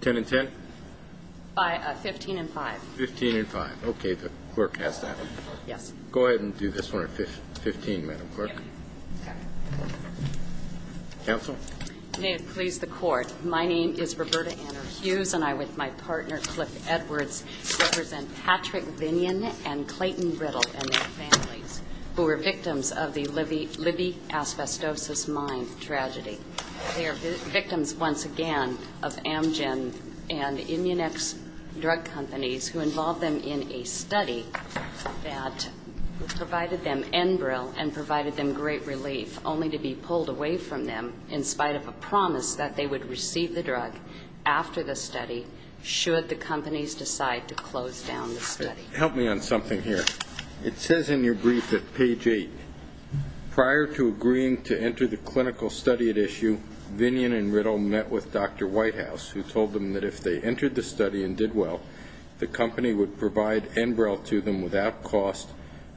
10 and 10? 15 and 5. 15 and 5. Okay, the clerk has that. Yes. Go ahead and do this one at 15, Madam Clerk. Yes. Okay. Counsel? May it please the Court. My name is Roberta Anner Hughes, and I, with my partner Cliff Edwards, represent Patrick Vignon and Clayton Riddle and their families, who were victims of the Libby asbestosis mine tragedy. They are victims, once again, of Amgen and Immunex drug companies who involved them in a study that provided them Enbrel and provided them great relief, only to be pulled away from them in spite of a promise that they would receive the drug after the study should the companies decide to close down the study. Help me on something here. It says in your brief at page 8, prior to agreeing to enter the clinical study at issue, Vignon and Riddle met with Dr. Whitehouse, who told them that if they entered the study and did well, the company would provide Enbrel to them without cost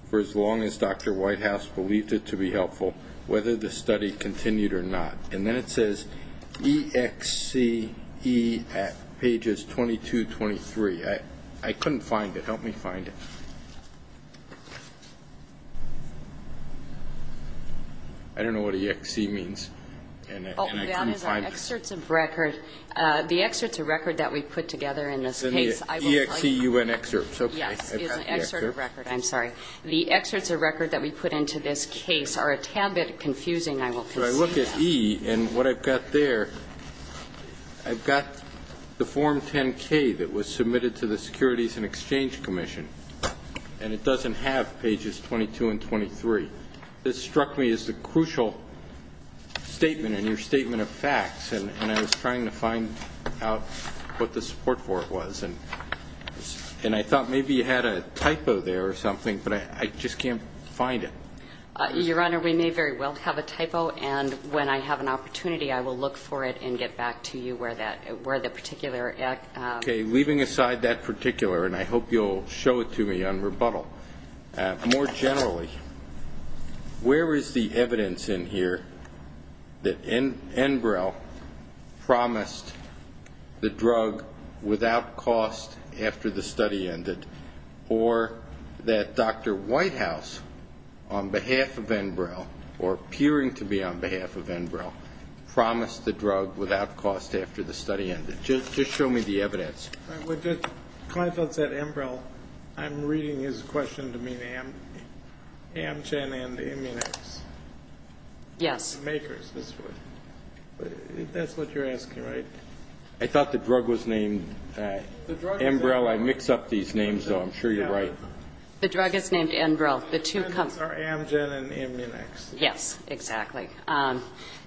for as long as Dr. Whitehouse believed it to be helpful, whether the study continued or not. And then it says EXCE at pages 22-23. I couldn't find it. Help me find it. I don't know what EXCE means, and I couldn't find it. Oh, that is an excerpt of record. The excerpts of record that we put together in this case, I will find it. It's an EXCUN excerpt. Yes, it's an excerpt of record. I'm sorry. The excerpts of record that we put into this case are a tad bit confusing, I will concede. So I look at E, and what I've got there, I've got the Form 10-K that was submitted to the Securities and Exchange Commission, and it doesn't have pages 22 and 23. This struck me as the crucial statement in your statement of facts, and I was trying to find out what the support for it was, and I thought maybe you had a typo there or something, but I just can't find it. Your Honor, we may very well have a typo, and when I have an opportunity I will look for it and get back to you where the particular excerpt is. Okay, leaving aside that particular, and I hope you'll show it to me on rebuttal, more generally, where is the evidence in here that Enbrel promised the drug without cost after the study ended, or that Dr. Whitehouse, on behalf of Enbrel, or appearing to be on behalf of Enbrel, promised the drug without cost after the study ended? Just show me the evidence. When Kleinfeld said Enbrel, I'm reading his question to mean Amgen and Immunex. Yes. The makers, that's what you're asking, right? I thought the drug was named Enbrel. I mix up these names, though. I'm sure you're right. The drug is named Enbrel. The two companies are Amgen and Immunex. Yes, exactly.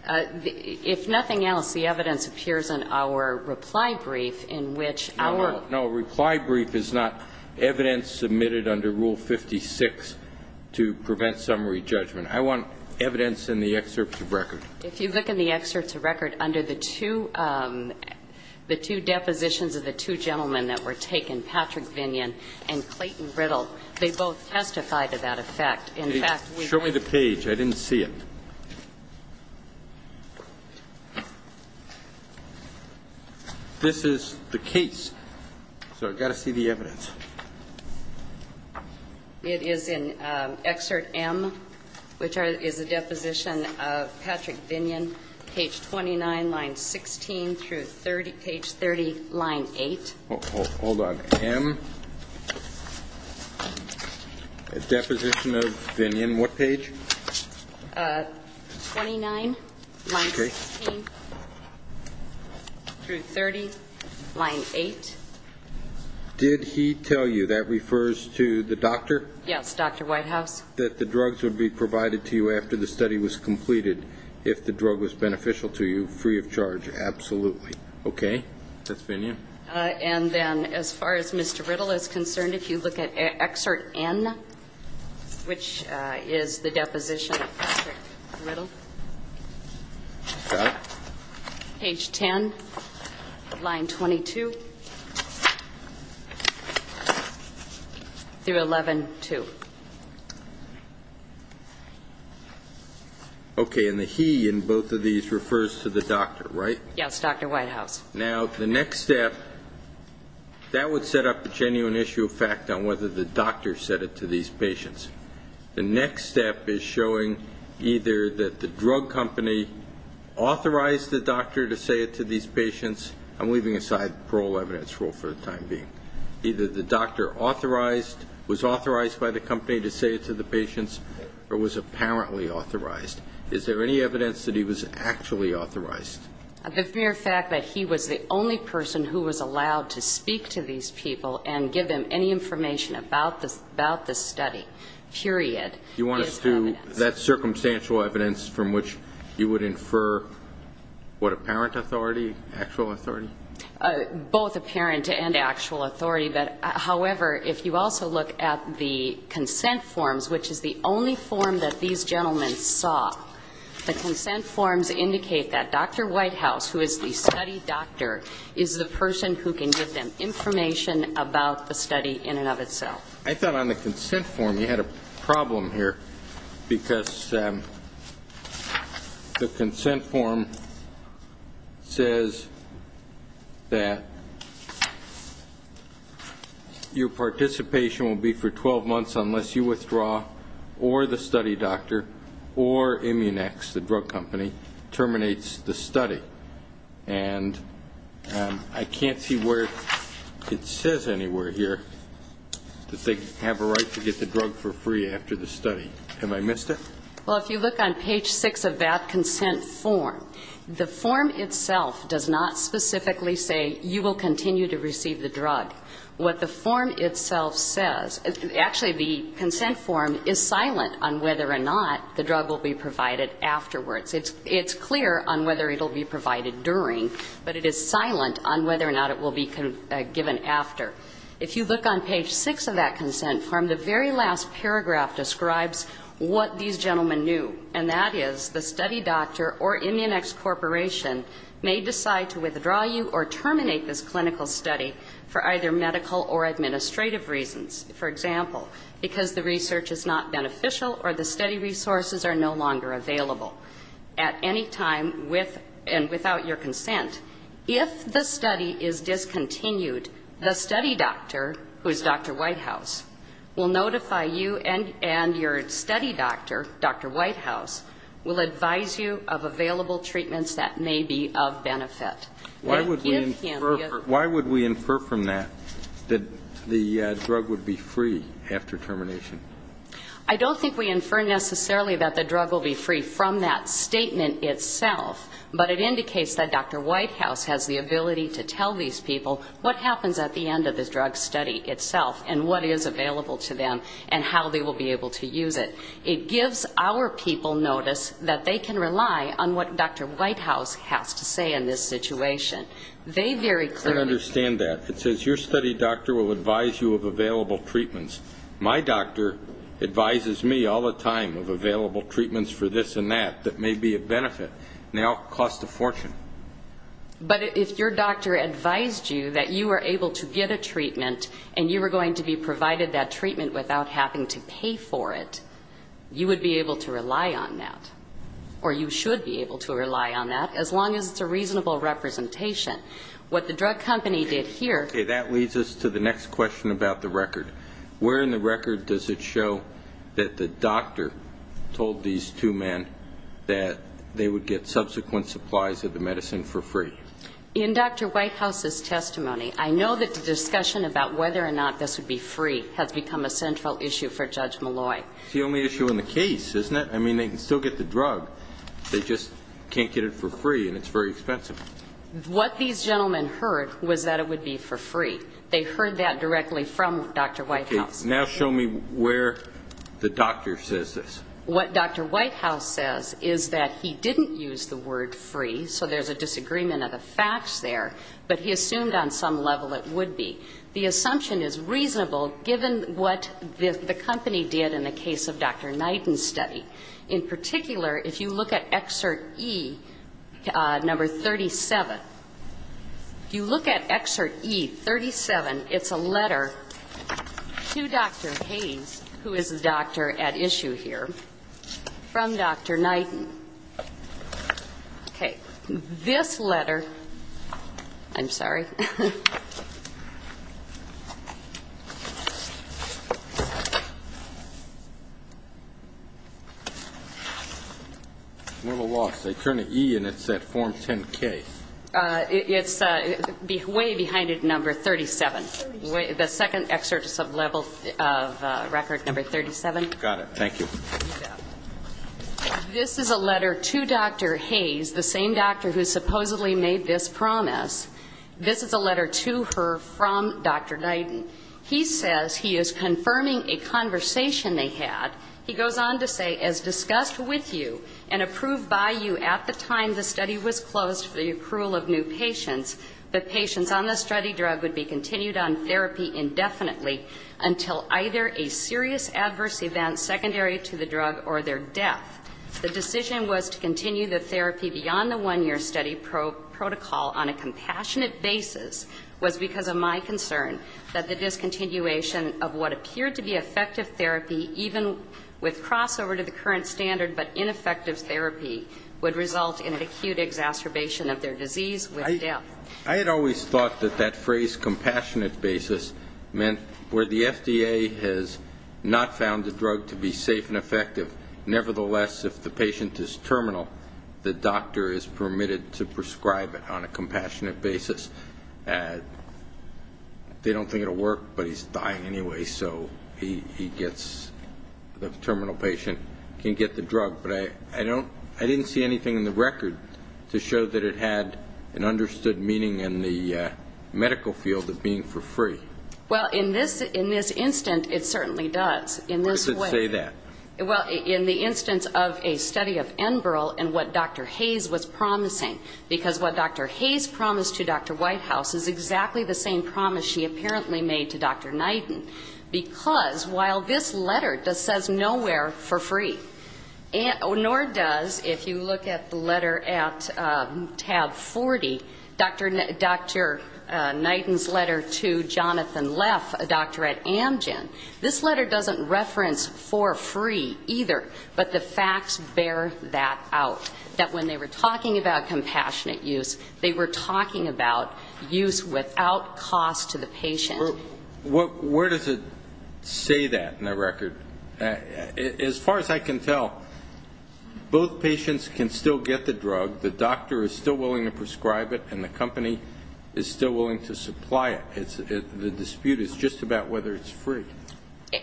If nothing else, the evidence appears in our reply brief in which our ---- No, no. Reply brief is not evidence submitted under Rule 56 to prevent summary judgment. I want evidence in the excerpt to record. If you look in the excerpt to record, under the two depositions of the two gentlemen that were taken, Patrick Vinyon and Clayton Riddle, they both testified to that effect. In fact, we ---- Show me the page. I didn't see it. This is the case. So I've got to see the evidence. It is in excerpt M, which is a deposition of Patrick Vinyon, page 29, line 16 through 30, page 30, line 8. Hold on. M, a deposition of Vinyon. What page? 29, line 16 through 30, line 8. Did he tell you, that refers to the doctor? Yes, Dr. Whitehouse. That the drugs would be provided to you after the study was completed, if the drug was beneficial to you, free of charge. Absolutely. Okay. That's Vinyon. And then, as far as Mr. Riddle is concerned, if you look at excerpt N, which is the deposition of Patrick Riddle, page 10, line 22, through 11-2. Okay. And the he in both of these refers to the doctor, right? Yes, Dr. Whitehouse. Now, the next step, that would set up the genuine issue of fact on whether the doctor said it to these patients. The next step is showing either that the drug company authorized the doctor to say it to these patients. I'm leaving aside parole evidence for the time being. Either the doctor authorized, was authorized by the company to say it to the patients, or was apparently authorized. Is there any evidence that he was actually authorized? The mere fact that he was the only person who was allowed to speak to these people and give them any information about the study, period, is evidence. You want us to, that's circumstantial evidence from which you would infer what apparent authority, actual authority? Both apparent and actual authority. However, if you also look at the consent forms, which is the only form that these gentlemen saw, the consent forms indicate that Dr. Whitehouse, who is the study doctor, is the person who can give them information about the study in and of itself. I thought on the consent form you had a problem here, because the consent form says that your participation will be for 12 months unless you withdraw, or the study doctor, or Immunex, the drug company, terminates the study. And I can't see where it says anywhere here that they have a right to get the drug for free after the study. Have I missed it? Well, if you look on page 6 of that consent form, the form itself does not specifically say you will continue to receive the drug. What the form itself says, actually the consent form is silent on whether or not the drug will be provided afterwards. It's clear on whether it will be provided during, but it is silent on whether or not it will be given after. If you look on page 6 of that consent form, the very last paragraph describes what these gentlemen knew, and that is the study doctor or Immunex Corporation may decide to withdraw you or terminate this clinical study for either medical or administrative reasons. For example, because the research is not beneficial or the study resources are no longer available. At any time, with and without your consent, if the study is discontinued, the study doctor, who is Dr. Whitehouse, will notify you and your study doctor, Dr. Whitehouse, will advise you of available treatments that may be of benefit. Why would we infer from that that the drug would be free after termination? I don't think we infer necessarily that the drug will be free from that statement itself, but it indicates that Dr. Whitehouse has the ability to tell these people what happens at the end of the drug study itself and what is available to them and how they will be able to use it. It gives our people notice that they can rely on what Dr. Whitehouse has to say in this situation. I don't understand that. It says your study doctor will advise you of available treatments. My doctor advises me all the time of available treatments for this and that that may be of benefit, now cost a fortune. But if your doctor advised you that you were able to get a treatment and you were going to be provided that treatment without having to pay for it, you would be able to rely on that, or you should be able to rely on that, as long as it's a reasonable representation. What the drug company did here --" Okay, that leads us to the next question about the record. Where in the record does it show that the doctor told these two men that they would get subsequent supplies of the medicine for free? In Dr. Whitehouse's testimony, I know that the discussion about whether or not this would be free has become a central issue for Judge Malloy. It's the only issue in the case, isn't it? I mean, they can still get the drug. They just can't get it for free, and it's very expensive. What these gentlemen heard was that it would be for free. They heard that directly from Dr. Whitehouse. Now show me where the doctor says this. What Dr. Whitehouse says is that he didn't use the word free, so there's a disagreement of the facts there, but he assumed on some level it would be. The assumption is reasonable, given what the company did in the case of Dr. Knighton's study. In particular, if you look at Excerpt E, Number 37, if you look at Excerpt E, 37, it's a letter to Dr. Hayes, who is the doctor at issue here, from Dr. Knighton. Okay. This letter... I'm sorry. I'm at a loss. They turn to E, and it's at Form 10-K. It's way behind it, Number 37. The second excerpt is a record of Number 37. Got it. Thank you. This is a letter to Dr. Hayes, the same doctor who supposedly made this promise. This is a letter to her from Dr. Knighton. He says he is confirming a conversation they had. He goes on to say, As discussed with you and approved by you at the time the study was closed for the approval of new patients, the patients on the study drug would be continued on therapy indefinitely until either a serious adverse event secondary to the drug or their death. The decision was to continue the therapy beyond the one-year study protocol on a compassionate basis was because of my concern that the discontinuation of what appeared to be effective therapy, even with crossover to the current standard but ineffective therapy, would result in an acute exacerbation of their disease with death. I had always thought that that phrase, compassionate basis, meant where the FDA has not found the drug to be safe and effective, nevertheless, if the patient is terminal, the doctor is permitted to prescribe it on a compassionate basis. They don't think it will work, but he's dying anyway, so the terminal patient can get the drug. I didn't see anything in the record to show that it had an understood meaning in the medical field of being for free. Well, in this instance, it certainly does. Why does it say that? Well, in the instance of a study of Enbrel and what Dr. Hayes was promising, because what Dr. Hayes promised to Dr. Whitehouse is exactly the same promise she apparently made to Dr. Knighton, because while this letter says nowhere for free, nor does, if you look at the letter at tab 40, Dr. Knighton's letter to Jonathan Leff, a doctor at Amgen, this letter doesn't reference for free either, but the facts bear that out, that when they were talking about compassionate use, they were talking about use without cost to the patient. Where does it say that in the record? As far as I can tell, both patients can still get the drug, the doctor is still willing to prescribe it, and the company is still willing to supply it. The dispute is just about whether it's free.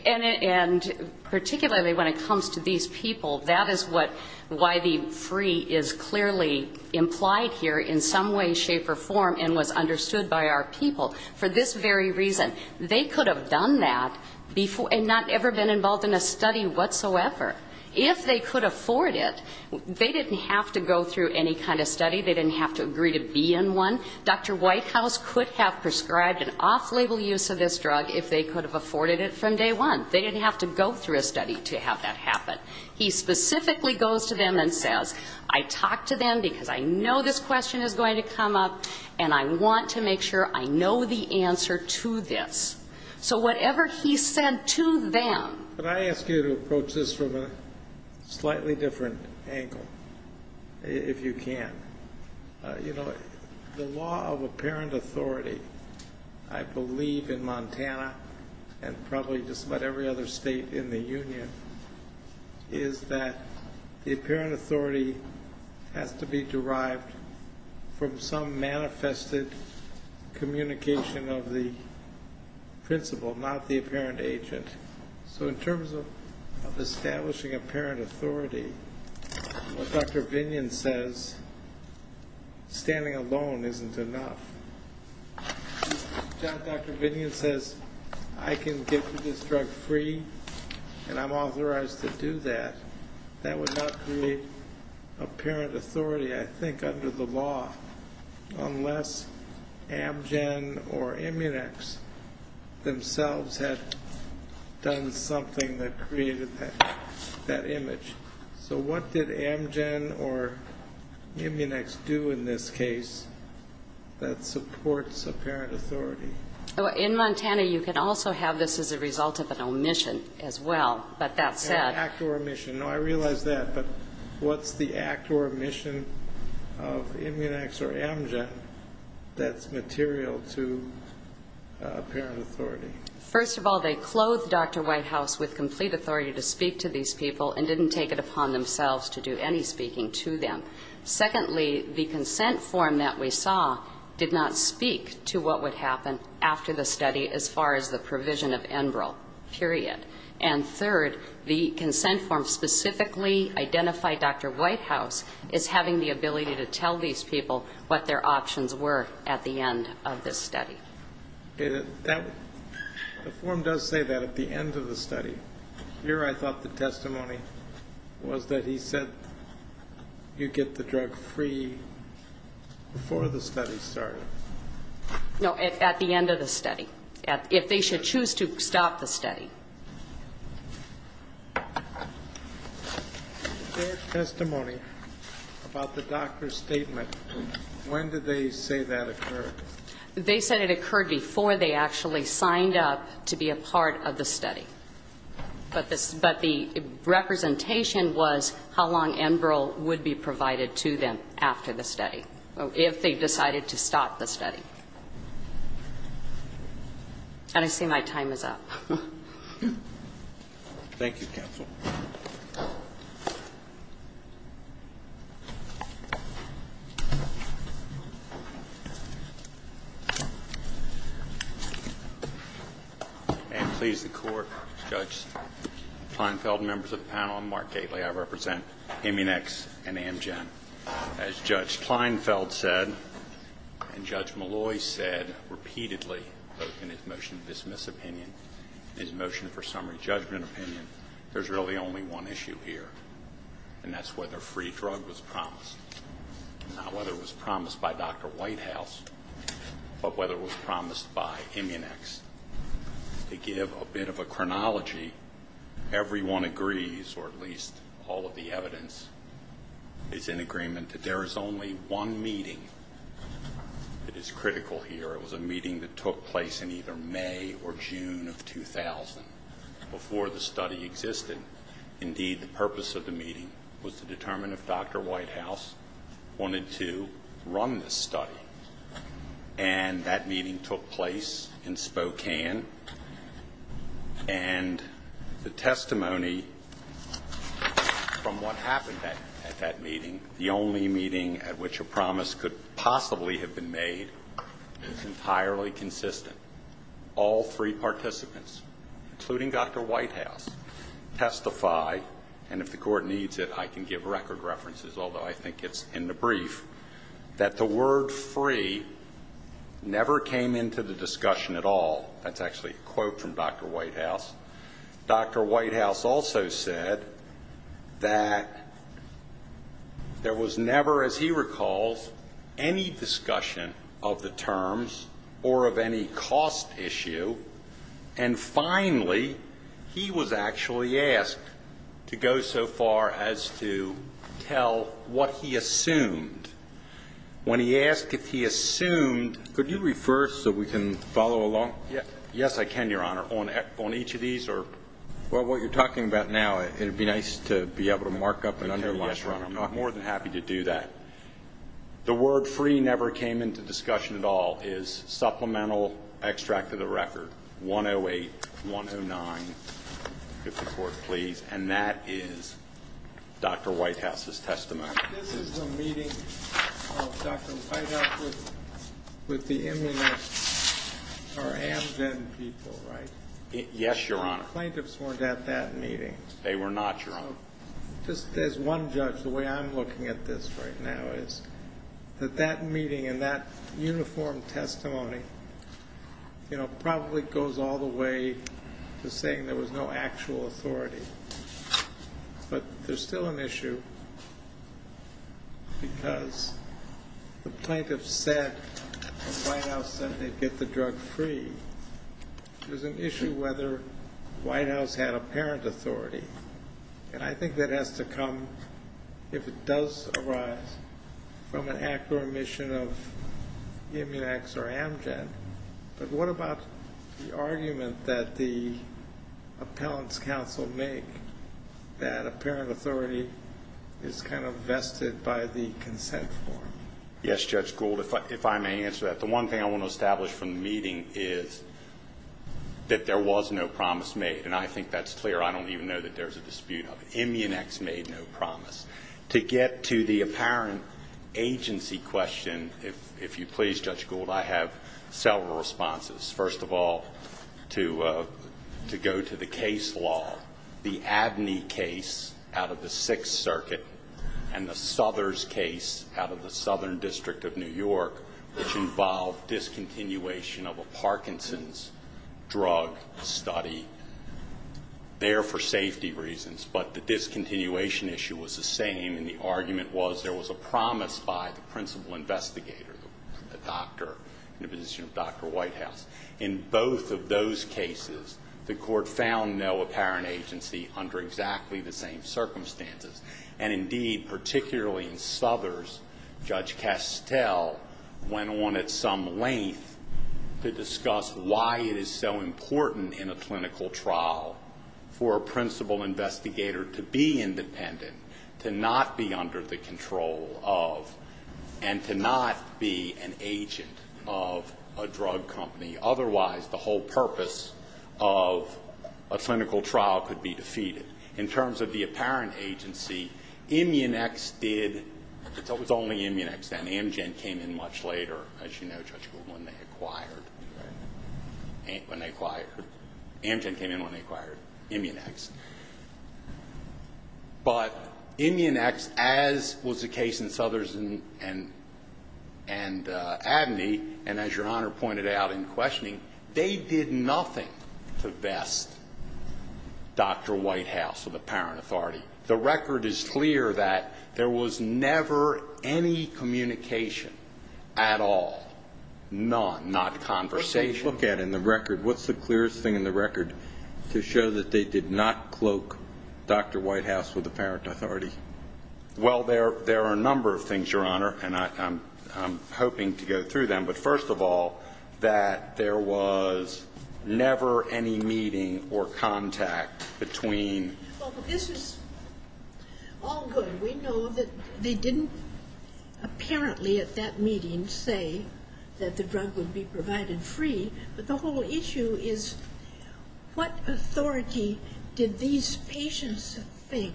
And particularly when it comes to these people, that is why the free is clearly implied here in some way, shape, or form and was understood by our people for this very reason. They could have done that and not ever been involved in a study whatsoever. If they could afford it, they didn't have to go through any kind of study, they didn't have to agree to be in one. Dr. Whitehouse could have prescribed an off-label use of this drug if they could have afforded it from day one. They didn't have to go through a study to have that happen. He specifically goes to them and says, I talked to them because I know this question is going to come up and I want to make sure I know the answer to this. So whatever he said to them. Can I ask you to approach this from a slightly different angle, if you can? You know, the law of apparent authority, I believe in Montana and probably just about every other state in the union, is that the apparent authority has to be derived from some manifested communication of the principle, not the apparent agent. So in terms of establishing apparent authority, what Dr. Vinyan says, standing alone isn't enough. If Dr. Vinyan says, I can get this drug free and I'm authorized to do that, that would not create apparent authority, I think, under the law unless Amgen or Immunex themselves had done something that created that image. So what did Amgen or Immunex do in this case that supports apparent authority? In Montana you can also have this as a result of an omission as well, but that said. An act or omission. No, I realize that, but what's the act or omission of Immunex or Amgen that's material to apparent authority? First of all, they clothed Dr. Whitehouse with complete authority to speak to these people and didn't take it upon themselves to do any speaking to them. Secondly, the consent form that we saw did not speak to what would happen after the study as far as the provision of Enbrel, period. And third, the consent form specifically identified Dr. Whitehouse as having the ability to tell these people what their options were at the end of this study. The form does say that at the end of the study. Here I thought the testimony was that he said, you get the drug free before the study started. No, at the end of the study. If they should choose to stop the study. Their testimony about the doctor's statement, when did they say that occurred? They said it occurred before they actually signed up to be a part of the study. But the representation was how long Enbrel would be provided to them after the study. If they decided to stop the study. And I see my time is up. Thank you, counsel. May it please the court, Judge Kleinfeld, members of the panel, and Mark Gately. I represent Eminex and Amgen. As Judge Kleinfeld said, and Judge Malloy said repeatedly, both in his motion to dismiss opinion and his motion for summary judgment opinion, there's really only one issue here, and that's whether free drug was promised. Not whether it was promised by Dr. Whitehouse, but whether it was promised by Eminex. To give a bit of a chronology, everyone agrees, or at least all of the evidence, is in agreement that there is only one meeting that is critical here. It was a meeting that took place in either May or June of 2000, before the study existed. Indeed, the purpose of the meeting was to determine if Dr. Whitehouse wanted to run this study. And that meeting took place in Spokane. And the testimony from what happened at that meeting, the only meeting at which a promise could possibly have been made, is entirely consistent. All three participants, including Dr. Whitehouse, testify, and if the court needs it I can give record references, although I think it's in the brief, that the word free never came into the discussion at all. That's actually a quote from Dr. Whitehouse. Dr. Whitehouse also said that there was never, as he recalls, any discussion of the terms or of any cost issue. And finally, he was actually asked to go so far as to tell what he assumed. When he asked if he assumed ---- Could you refer so we can follow along? Yes, I can, Your Honor. Well, what you're talking about now, it would be nice to be able to mark up and underline. Yes, Your Honor. I'm more than happy to do that. The word free never came into discussion at all is supplemental extract of the record, 108-109. If the court please. And that is Dr. Whitehouse's testimony. This is the meeting of Dr. Whitehouse with the Immune or Amgen people, right? Yes, Your Honor. The plaintiffs weren't at that meeting. They were not, Your Honor. So just as one judge, the way I'm looking at this right now is that that meeting and that uniform testimony probably goes all the way to saying there was no actual authority. But there's still an issue because the plaintiff said or Whitehouse said they'd get the drug free. There's an issue whether Whitehouse had apparent authority. And I think that has to come if it does arise from an act or omission of Immunex or Amgen. But what about the argument that the appellant's counsel make that apparent authority is kind of vested by the consent form? Yes, Judge Gould, if I may answer that. The one thing I want to establish from the meeting is that there was no promise made, and I think that's clear. I don't even know that there's a dispute of it. Immunex made no promise. To get to the apparent agency question, if you please, Judge Gould, I have several responses. First of all, to go to the case law, the Abney case out of the Sixth Circuit and the Southers case out of the Southern District of New York, which involved discontinuation of a Parkinson's drug study there for safety reasons. But the discontinuation issue was the same, and the argument was there was a promise by the principal investigator, the doctor in the position of Dr. Whitehouse. In both of those cases, the court found no apparent agency under exactly the same circumstances. And indeed, particularly in Southers, Judge Castell went on at some length to discuss why it is so important in a clinical trial for a principal investigator to be independent, to not be under the control of, and to not be an agent of a drug company. Otherwise, the whole purpose of a clinical trial could be defeated. In terms of the apparent agency, Immunex did, it was only Immunex then. Amgen came in much later, as you know, Judge Gould, when they acquired. When they acquired. Amgen came in when they acquired Immunex. But Immunex, as was the case in Southers and Abney, and as Your Honor pointed out in questioning, they did nothing to vest Dr. Whitehouse with apparent authority. The record is clear that there was never any communication at all, none, not conversation. What did they look at in the record? What's the clearest thing in the record to show that they did not cloak Dr. Whitehouse with apparent authority? Well, there are a number of things, Your Honor, and I'm hoping to go through them. But first of all, that there was never any meeting or contact between. Well, this is all good. We know that they didn't apparently at that meeting say that the drug would be provided free, but the whole issue is what authority did these patients think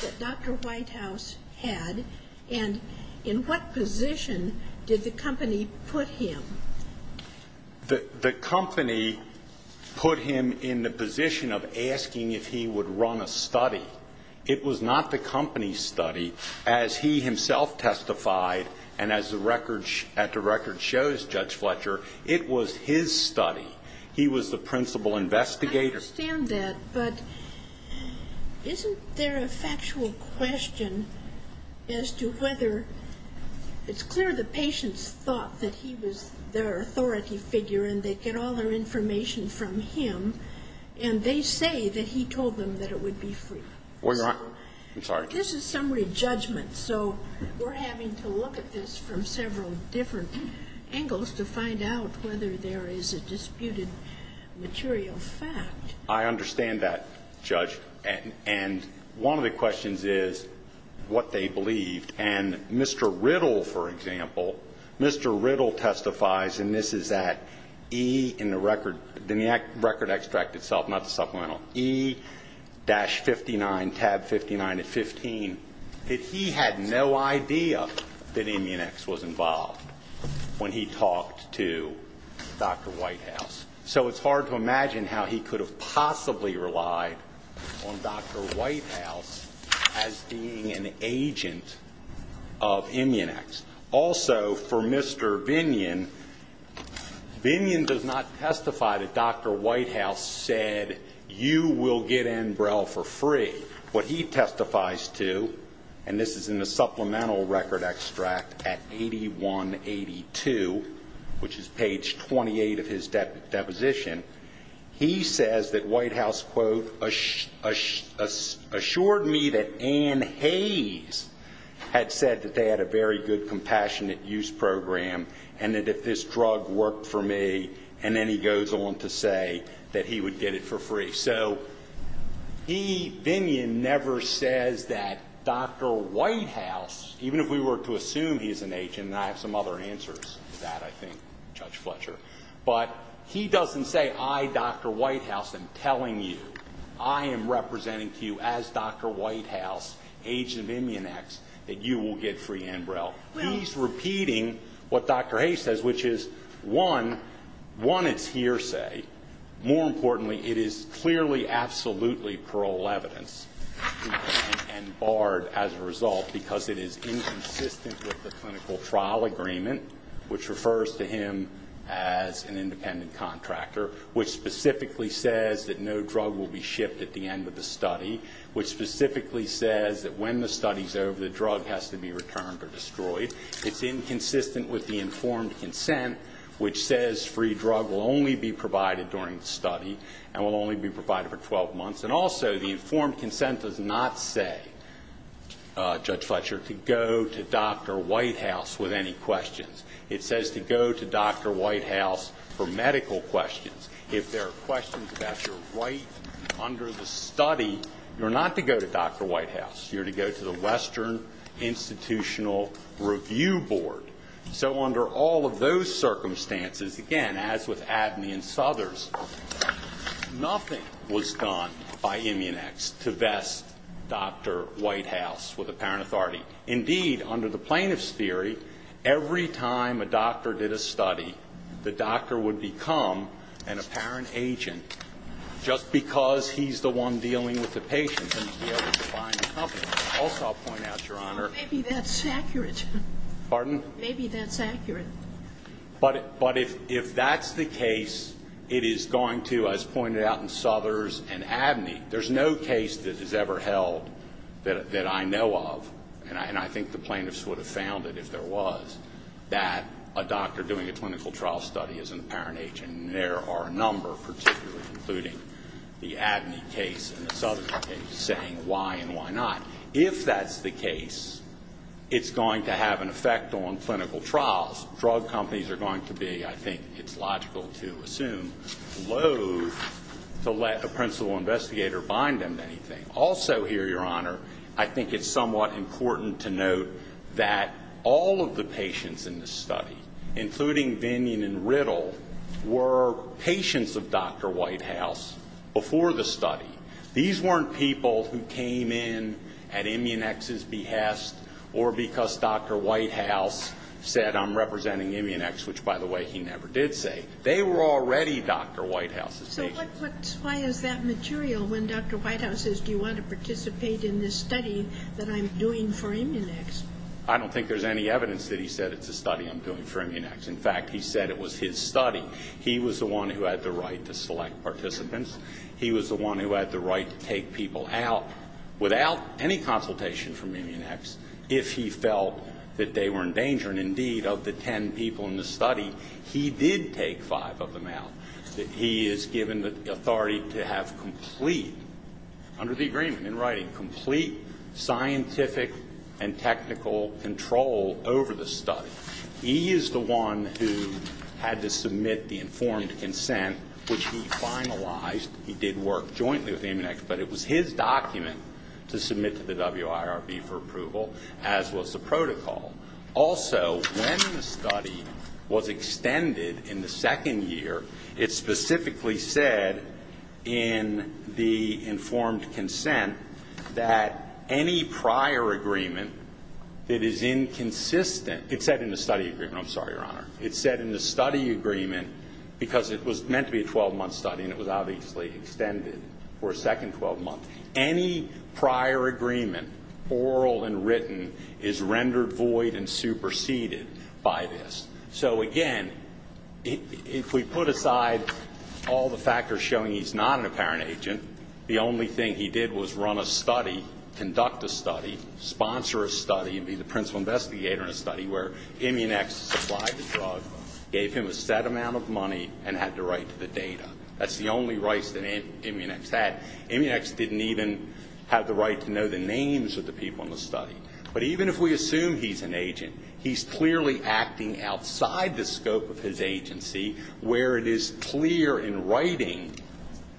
that Dr. Whitehouse had, and in what position did the company put him? The company put him in the position of asking if he would run a study. It was not the company's study, as he himself testified, and as the record at the record shows, Judge Fletcher, it was his study. He was the principal investigator. I understand that, but isn't there a factual question as to whether it's clear the patients thought that he was their authority figure and they get all their information from him, and they say that he told them that it would be free? Well, Your Honor, I'm sorry. This is summary judgment, so we're having to look at this from several different angles to find out whether there is a disputed material fact. I understand that, Judge, and one of the questions is what they believed. And Mr. Riddle, for example, Mr. Riddle testifies, and this is at E in the record, in the record extract itself, not the supplemental, E-59, tab 59 of 15, that he had no idea that Immunex was involved when he talked to Dr. Whitehouse. So it's hard to imagine how he could have possibly relied on Dr. Whitehouse as being an agent of Immunex. Also, for Mr. Binion, Binion does not testify that Dr. Whitehouse said you will get Enbrel for free. What he testifies to, and this is in the supplemental record extract at 8182, which is page 28 of his deposition, he says that Whitehouse, quote, assured me that Anne Hayes had said that they had a very good compassionate use program and that if this drug worked for me, and then he goes on to say that he would get it for free. If so, he, Binion, never says that Dr. Whitehouse, even if we were to assume he's an agent, and I have some other answers to that, I think, Judge Fletcher, but he doesn't say, I, Dr. Whitehouse, am telling you, I am representing to you as Dr. Whitehouse, agent of Immunex, that you will get free Enbrel. He's repeating what Dr. Hayes says, which is, one, one, it's hearsay. More importantly, it is clearly, absolutely parole evidence, and barred as a result because it is inconsistent with the clinical trial agreement, which refers to him as an independent contractor, which specifically says that no drug will be shipped at the end of the study, which specifically says that when the study's over, the drug has to be returned or destroyed. It's inconsistent with the informed consent, which says free drug will only be provided during the study and will only be provided for 12 months. And also, the informed consent does not say, Judge Fletcher, to go to Dr. Whitehouse with any questions. It says to go to Dr. Whitehouse for medical questions. If there are questions about your right under the study, you're not to go to Dr. Whitehouse. You're to go to the Western Institutional Review Board. So under all of those circumstances, again, as with Abney and Southers, nothing was done by Immunex to vest Dr. Whitehouse with apparent authority. Indeed, under the plaintiff's theory, every time a doctor did a study, the doctor would become an apparent agent just because he's the one dealing with the patient Also, I'll point out, Your Honor. Maybe that's accurate. Pardon? Maybe that's accurate. But if that's the case, it is going to, as pointed out in Southers and Abney, there's no case that is ever held that I know of, and I think the plaintiffs would have found it if there was, that a doctor doing a clinical trial study is an apparent agent, and there are a number, particularly including the Abney case and the Southers case, saying why and why not. If that's the case, it's going to have an effect on clinical trials. Drug companies are going to be, I think it's logical to assume, loathe to let a principal investigator bind them to anything. Also here, Your Honor, I think it's somewhat important to note that all of the patients in this study, including Vinian and Riddle, were patients of Dr. Whitehouse before the study. These weren't people who came in at Immunex's behest or because Dr. Whitehouse said, I'm representing Immunex, which, by the way, he never did say. They were already Dr. Whitehouse's patients. So why is that material when Dr. Whitehouse says, do you want to participate in this study that I'm doing for Immunex? I don't think there's any evidence that he said it's a study I'm doing for Immunex. In fact, he said it was his study. He was the one who had the right to select participants. He was the one who had the right to take people out without any consultation from Immunex if he felt that they were in danger. And indeed, of the ten people in the study, he did take five of them out. He is given the authority to have complete, under the agreement in writing, complete scientific and technical control over the study. He is the one who had to submit the informed consent, which he finalized. He did work jointly with Immunex, but it was his document to submit to the WIRB for approval, as was the protocol. Also, when the study was extended in the second year, it specifically said in the informed consent that any prior agreement that is inconsistent It said in the study agreement. I'm sorry, Your Honor. It said in the study agreement, because it was meant to be a 12-month study and it was obviously extended for a second 12 months, any prior agreement, oral and written, is rendered void and superseded by this. So again, if we put aside all the factors showing he's not an apparent agent, the only thing he did was run a study, conduct a study, sponsor a study, and be the principal investigator in a study where Immunex supplied the drug, gave him a set amount of money, and had the right to the data. That's the only rights that Immunex had. Immunex didn't even have the right to know the names of the people in the study. But even if we assume he's an agent, he's clearly acting outside the scope of his agency, where it is clear in writing,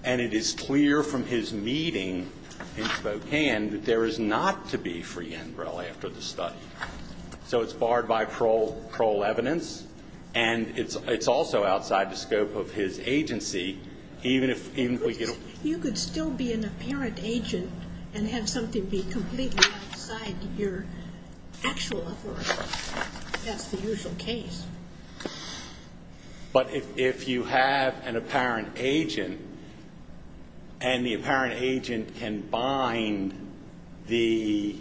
and it is clear from his meeting in Spokane, that there is not to be free NREL after the study. So it's barred by parole evidence, and it's also outside the scope of his agency, even if we get a You could still be an apparent agent and have something be completely outside your actual authority. That's the usual case. But if you have an apparent agent, and the apparent agent can bind the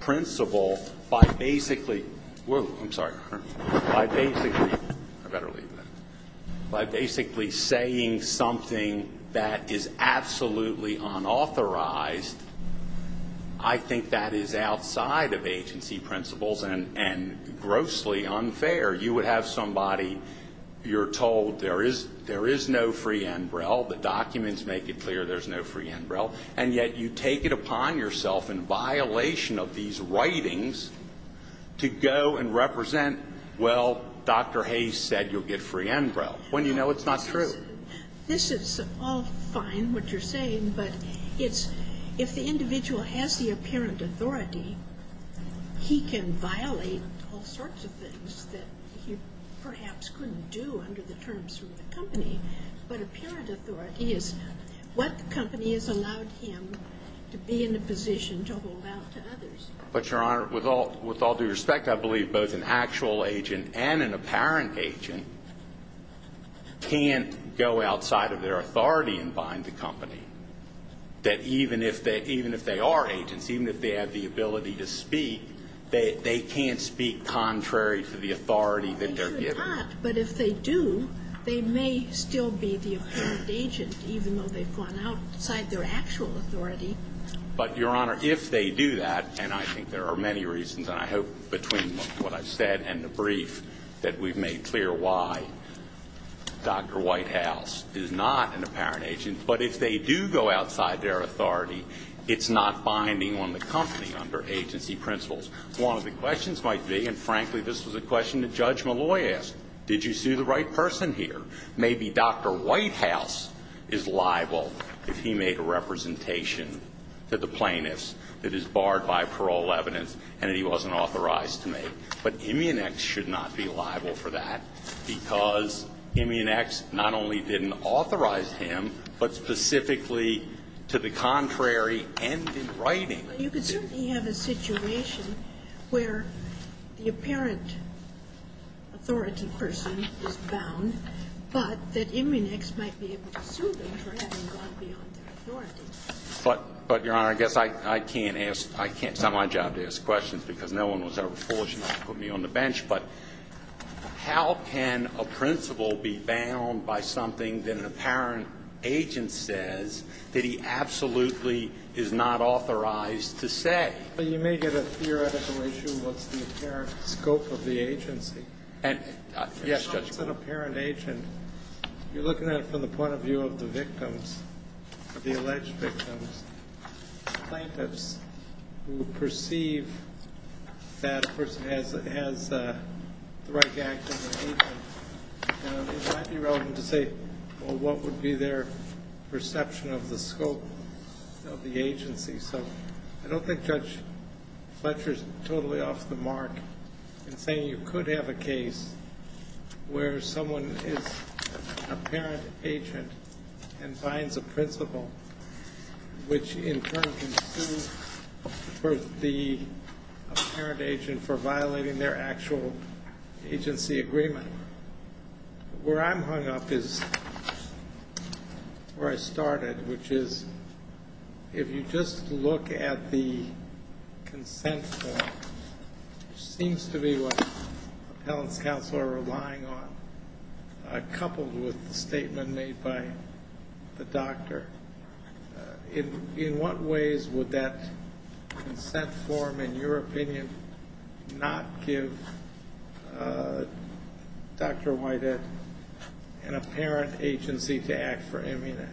principal by basically I'm sorry. I better leave that. By basically saying something that is absolutely unauthorized, I think that is outside of agency principles and grossly unfair. You would have somebody, you're told there is no free NREL, the documents make it clear there's no free NREL, and yet you take it upon yourself in violation of these writings to go and represent, well, Dr. Hayes said you'll get free NREL, when you know it's not true. This is all fine, what you're saying, but it's, if the individual has the apparent authority, he can violate all sorts of things that he perhaps couldn't do under the terms of the company. But apparent authority is what the company has allowed him to be in a position to hold out to others. But, Your Honor, with all due respect, I believe both an actual agent and an apparent agent can't go outside of their authority and bind the company. That even if they are agents, even if they have the ability to speak, they can't speak contrary to the authority that they're given. They may not, but if they do, they may still be the apparent agent, even though they've gone outside their actual authority. But, Your Honor, if they do that, and I think there are many reasons, and I hope between what I've said and the brief that we've made clear why Dr. Whitehouse is not an apparent agent, but if they do go outside their authority, it's not binding on the company under agency principles. One of the questions might be, and frankly, this was a question that Judge Malloy asked, did you sue the right person here? Maybe Dr. Whitehouse is liable if he made a representation to the plaintiffs that is barred by parole evidence and that he wasn't authorized to make. But Immunex should not be liable for that because Immunex not only didn't authorize him, but specifically to the contrary ended writing. Well, you could certainly have a situation where the apparent authority person is bound, but that Immunex might be able to sue them for having gone beyond their authority. But, Your Honor, I guess I can't ask – it's not my job to ask questions because no one was ever fortunate to put me on the bench, but how can a principal be bound by something that an apparent agent says that he absolutely is not authorized to say? Well, you may get a theoretical issue of what's the apparent scope of the agency. Yes, Judge Malloy. It's not just an apparent agent. You're looking at it from the point of view of the victims, the alleged victims, the plaintiffs who perceive that person has the right to act as an agent. It might be relevant to say what would be their perception of the scope of the agency. So I don't think Judge Fletcher is totally off the mark in saying you could have a case where someone is an apparent agent and finds a principal, which in turn can sue the apparent agent for violating their actual agency agreement. Where I'm hung up is where I started, which is if you just look at the consent form, which seems to be what appellants' counsel are relying on, coupled with the statement made by the doctor, in what ways would that consent form, in your opinion, not give Dr. Whitehead an apparent agency to act for Immunex?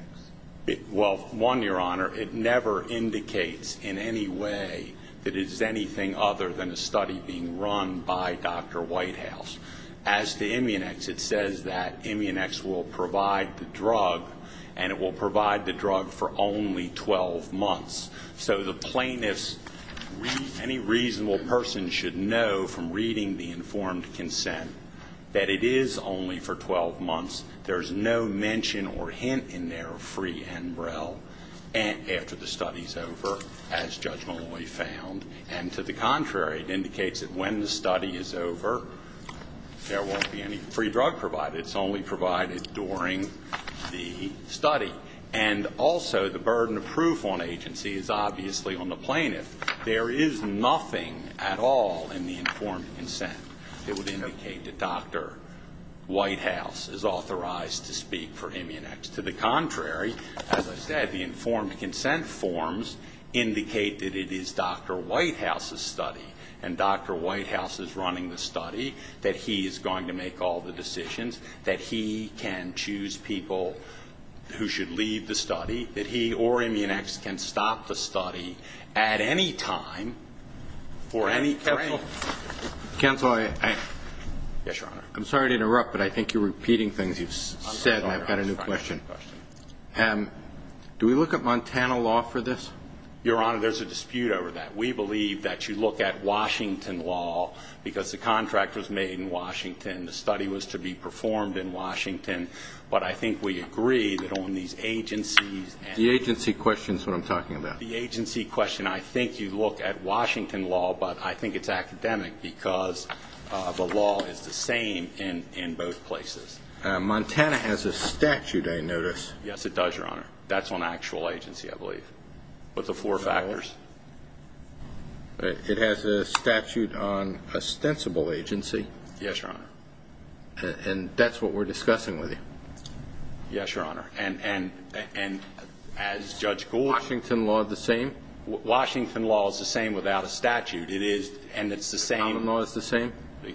Well, one, Your Honor, it never indicates in any way that it is anything other than a study being run by Dr. Whitehouse. As to Immunex, it says that Immunex will provide the drug, and it will provide the drug for only 12 months. So the plaintiffs, any reasonable person should know from reading the informed consent that it is only for 12 months. There's no mention or hint in there of free Enbrel after the study's over, as Judge Maloney found. And to the contrary, it indicates that when the study is over, there won't be any free drug provided. It's only provided during the study. And also, the burden of proof on agency is obviously on the plaintiff. There is nothing at all in the informed consent that would indicate that Dr. Whitehouse is authorized to speak for Immunex. To the contrary, as I said, the informed consent forms indicate that it is Dr. Whitehouse's study, and Dr. Whitehouse is running the study, that he is going to make all the decisions, that he can choose people who should leave the study, that he or Immunex can stop the study at any time for any frame. Counsel, I'm sorry to interrupt, but I think you're repeating things you've said, and I've got a new question. Do we look at Montana law for this? Your Honor, there's a dispute over that. We believe that you look at Washington law because the contract was made in Washington, the study was to be performed in Washington. But I think we agree that on these agencies and the agency question, I think you look at Washington law, but I think it's academic because the law is the same in both places. Montana has a statute, I notice. Yes, it does, Your Honor. That's on actual agency, I believe, with the four factors. It has a statute on ostensible agency. Yes, Your Honor. And that's what we're discussing with you. Yes, Your Honor. And as Judge Gould said, Washington law is the same? Washington law is the same without a statute. It is, and it's the same. The common law is the same?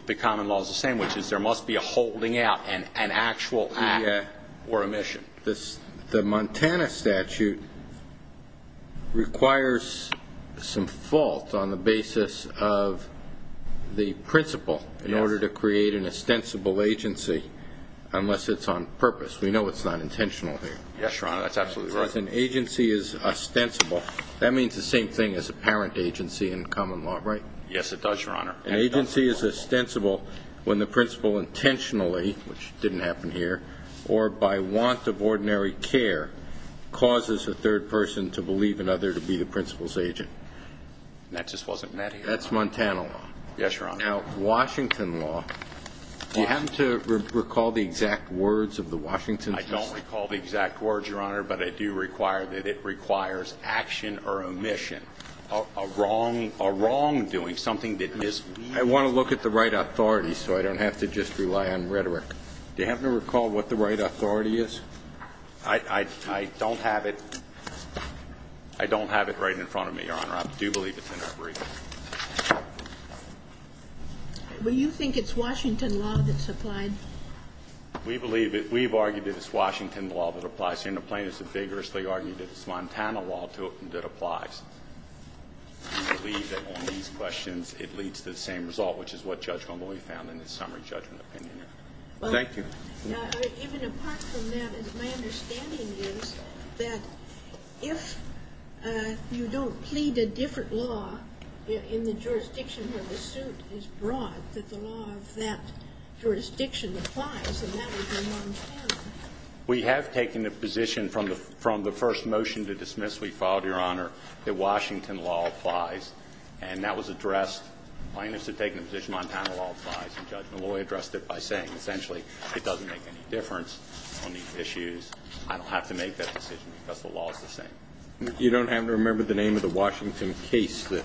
The common law is the same, which is there must be a holding out, an actual act or a mission. The Montana statute requires some fault on the basis of the principle in order to create an ostensible agency unless it's on purpose. We know it's not intentional here. Yes, Your Honor, that's absolutely right. If an agency is ostensible, that means the same thing as a parent agency in common law, right? Yes, it does, Your Honor. An agency is ostensible when the principle intentionally, which didn't happen here, or by want of ordinary care, causes a third person to believe another to be the principle's agent. That just wasn't met here. That's Montana law. Yes, Your Honor. Now, Washington law, do you happen to recall the exact words of the Washington? I don't recall the exact words, Your Honor, but I do require that it requires action or a mission, a wrongdoing, something that is needed. I want to look at the right authority so I don't have to just rely on rhetoric. Do you happen to recall what the right authority is? I don't have it. I don't have it right in front of me, Your Honor. I do believe it's in our brief. Well, you think it's Washington law that's applied? We believe it. We've argued that it's Washington law that applies. And the plaintiffs have vigorously argued that it's Montana law that applies. We believe that on these questions it leads to the same result, which is what Judge Montgomery found in his summary judgment opinion. Thank you. Even apart from that, my understanding is that if you don't plead a different law in the jurisdiction where the suit is brought, that the law of that jurisdiction applies, and that would be Montana. We have taken a position from the first motion to dismiss, we filed, Your Honor, that Washington law applies. And that was addressed. Plaintiffs have taken a position that Montana law applies, and Judge Malloy addressed it by saying, essentially, it doesn't make any difference on these issues. I don't have to make that decision because the law is the same. You don't happen to remember the name of the Washington case that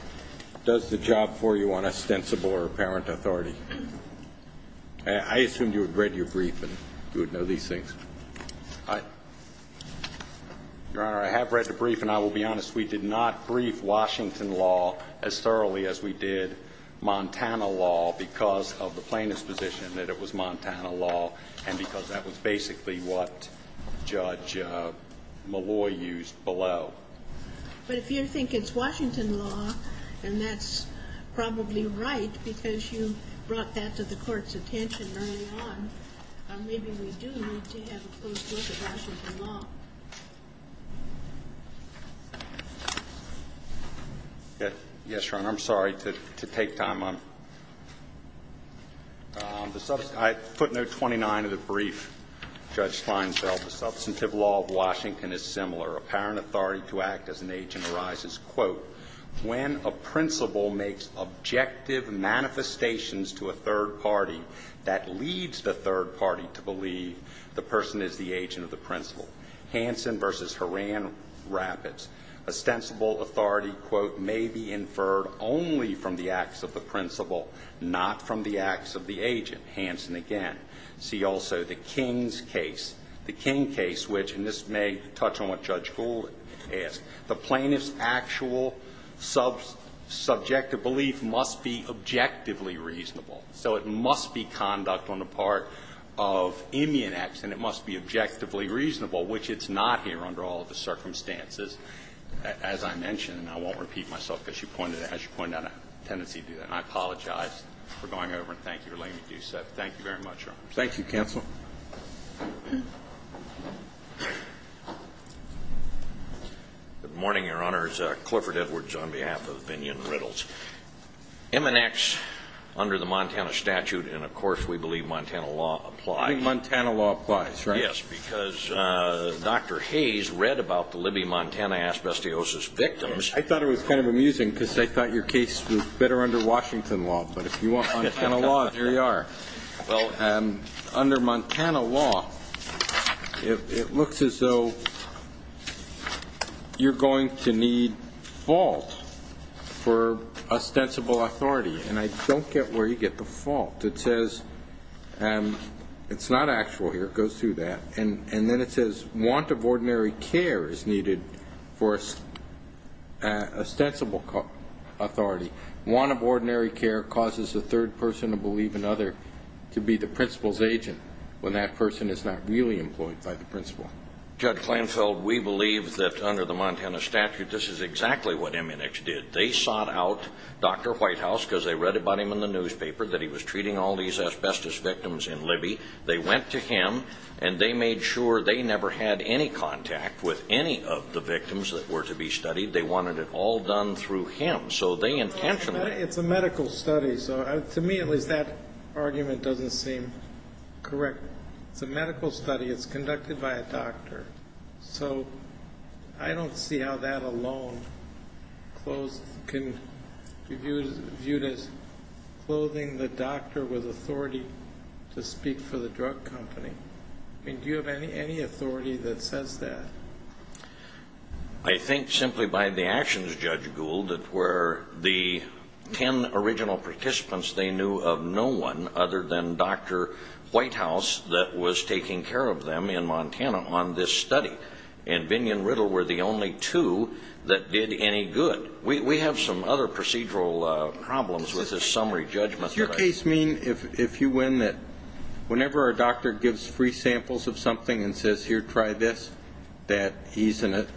does the job for you on ostensible or apparent authority? I assumed you had read your brief and you would know these things. Your Honor, I have read the brief, and I will be honest. We did not brief Washington law as thoroughly as we did Montana law because of the plaintiff's position that it was Montana law and because that was basically what Judge Malloy used below. But if you think it's Washington law, and that's probably right because you brought that to the Court's attention early on, maybe we do need to have a close look at Washington law. Yes, Your Honor. I'm sorry to take time. Footnote 29 of the brief. Judge Feinfeld, the substantive law of Washington is similar. Apparent authority to act as an agent arises. Quote, when a principal makes objective manifestations to a third party that leads the third party to believe the person is the agent of the principal. Hansen v. Horan Rapids. Ostensible authority, quote, may be inferred only from the acts of the principal, not from the acts of the agent. Hansen again. See also the King's case. The King case, which, and this may touch on what Judge Gould asked, the plaintiff's actual subjective belief must be objectively reasonable. So it must be conduct on the part of immune acts, and it must be objectively reasonable, which it's not here under all of the circumstances. As I mentioned, and I won't repeat myself because you pointed out a tendency to do that, and I apologize for going over, and thank you for letting me do so. Thank you very much, Your Honor. Thank you, counsel. Good morning, Your Honors. Clifford Edwards on behalf of Vinyon Riddles. Immune acts under the Montana statute, and, of course, we believe Montana law applies. I think Montana law applies, right? Yes, because Dr. Hayes read about the Libby Montana asbestosis victims. I thought it was kind of amusing because I thought your case was better under Washington law, but if you want Montana law, here you are. Well, under Montana law, it looks as though you're going to need fault for ostensible authority, and I don't get where you get the fault. It says it's not actual here. It goes through that. And then it says want of ordinary care is needed for ostensible authority. Want of ordinary care causes the third person to believe another to be the principal's agent when that person is not really employed by the principal. Judge Klenfeld, we believe that under the Montana statute, this is exactly what Immunex did. They sought out Dr. Whitehouse because they read about him in the newspaper that he was treating all these asbestos victims in Libby. They went to him, and they made sure they never had any contact with any of the victims that were to be studied. They wanted it all done through him. It's a medical study, so to me at least that argument doesn't seem correct. It's a medical study. It's conducted by a doctor. So I don't see how that alone can be viewed as clothing the doctor with authority to speak for the drug company. Do you have any authority that says that? I think simply by the actions, Judge Gould, that were the ten original participants they knew of no one other than Dr. Whitehouse that was taking care of them in Montana on this study. And Binion Riddle were the only two that did any good. We have some other procedural problems with this summary judgment. Does your case mean if you win that whenever a doctor gives free samples of something and says, Here, try this, that he's an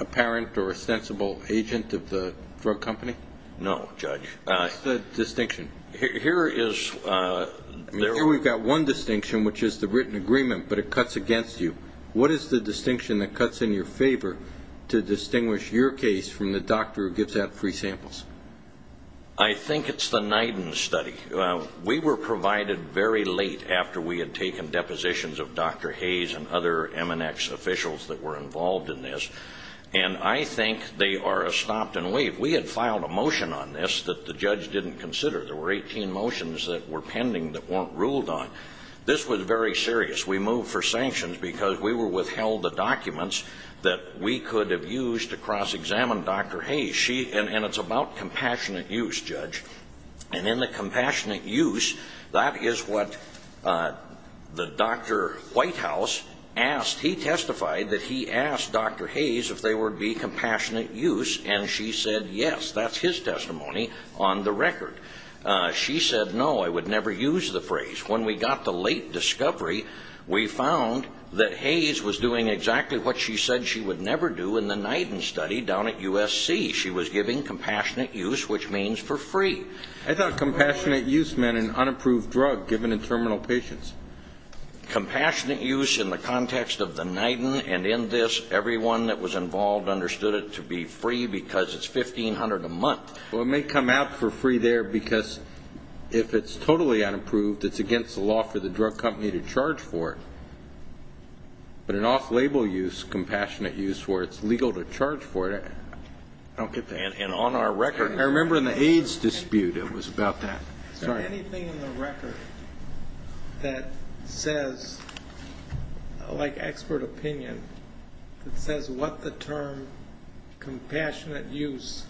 apparent or ostensible agent of the drug company? No, Judge. What's the distinction? Here we've got one distinction, which is the written agreement, but it cuts against you. What is the distinction that cuts in your favor to distinguish your case from the doctor who gives out free samples? I think it's the NIDIN study. We were provided very late after we had taken depositions of Dr. Hayes and other MNX officials that were involved in this, and I think they are stopped and waived. We had filed a motion on this that the judge didn't consider. There were 18 motions that were pending that weren't ruled on. This was very serious. We moved for sanctions because we were withheld the documents that we could have used to cross-examine Dr. Hayes. And it's about compassionate use, Judge. And in the compassionate use, that is what the Dr. Whitehouse asked. He testified that he asked Dr. Hayes if there would be compassionate use, and she said yes. That's his testimony on the record. She said, No, I would never use the phrase. When we got the late discovery, we found that Hayes was doing exactly what she said she would never do in the NIDIN study down at USC. She was giving compassionate use, which means for free. I thought compassionate use meant an unapproved drug given in terminal patients. Compassionate use in the context of the NIDIN and in this, everyone that was involved understood it to be free because it's $1,500 a month. Well, it may come out for free there because if it's totally unapproved, it's against the law for the drug company to charge for it. But an off-label use, compassionate use, where it's legal to charge for it, I don't get that. And on our record. I remember in the AIDS dispute it was about that. Is there anything in the record that says, like expert opinion, that says what the term compassionate use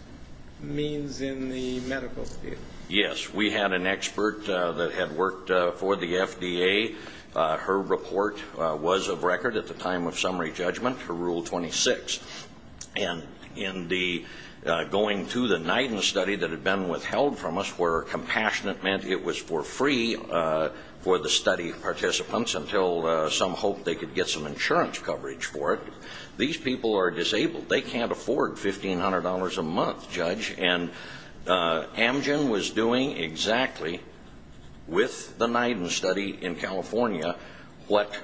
means in the medical field? Yes. We had an expert that had worked for the FDA. Her report was of record at the time of summary judgment for Rule 26. And in the going to the NIDIN study that had been withheld from us, where compassionate meant it was for free for the study participants until some hoped they could get some insurance coverage for it. These people are disabled. They can't afford $1,500 a month, Judge. And Amgen was doing exactly, with the NIDIN study in California, what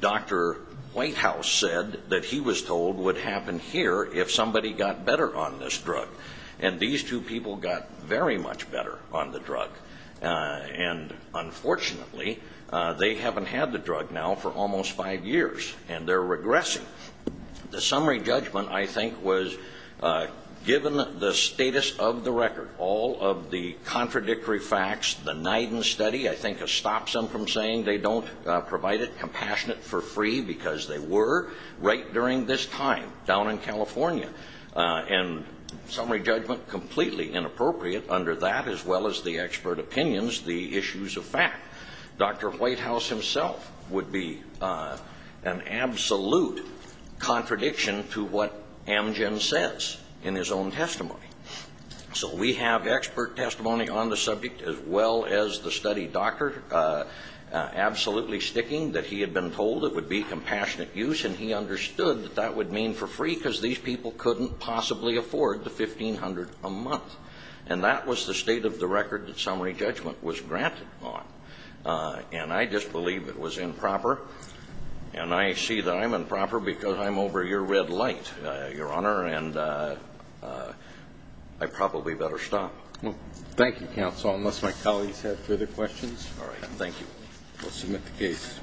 Dr. Whitehouse said that he was told would happen here if somebody got better on this drug. And these two people got very much better on the drug. And, unfortunately, they haven't had the drug now for almost five years, and they're regressing. The summary judgment, I think, was given the status of the record. All of the contradictory facts, the NIDIN study, I think, has stopped them from saying they don't provide it, compassionate for free, because they were right during this time down in California. And summary judgment completely inappropriate under that, as well as the expert opinions, the issues of fact. Dr. Whitehouse himself would be an absolute contradiction to what Amgen says in his own testimony. So we have expert testimony on the subject, as well as the study doctor absolutely sticking that he had been told it would be compassionate use, and he understood that that would mean for free, because these people couldn't possibly afford the $1,500 a month. And that was the state of the record that summary judgment was granted on. And I disbelieve it was improper, and I see that I'm improper because I'm over your red light, Your Honor. And I probably better stop. Thank you, counsel, unless my colleagues have further questions. All right. Thank you. We'll submit the case.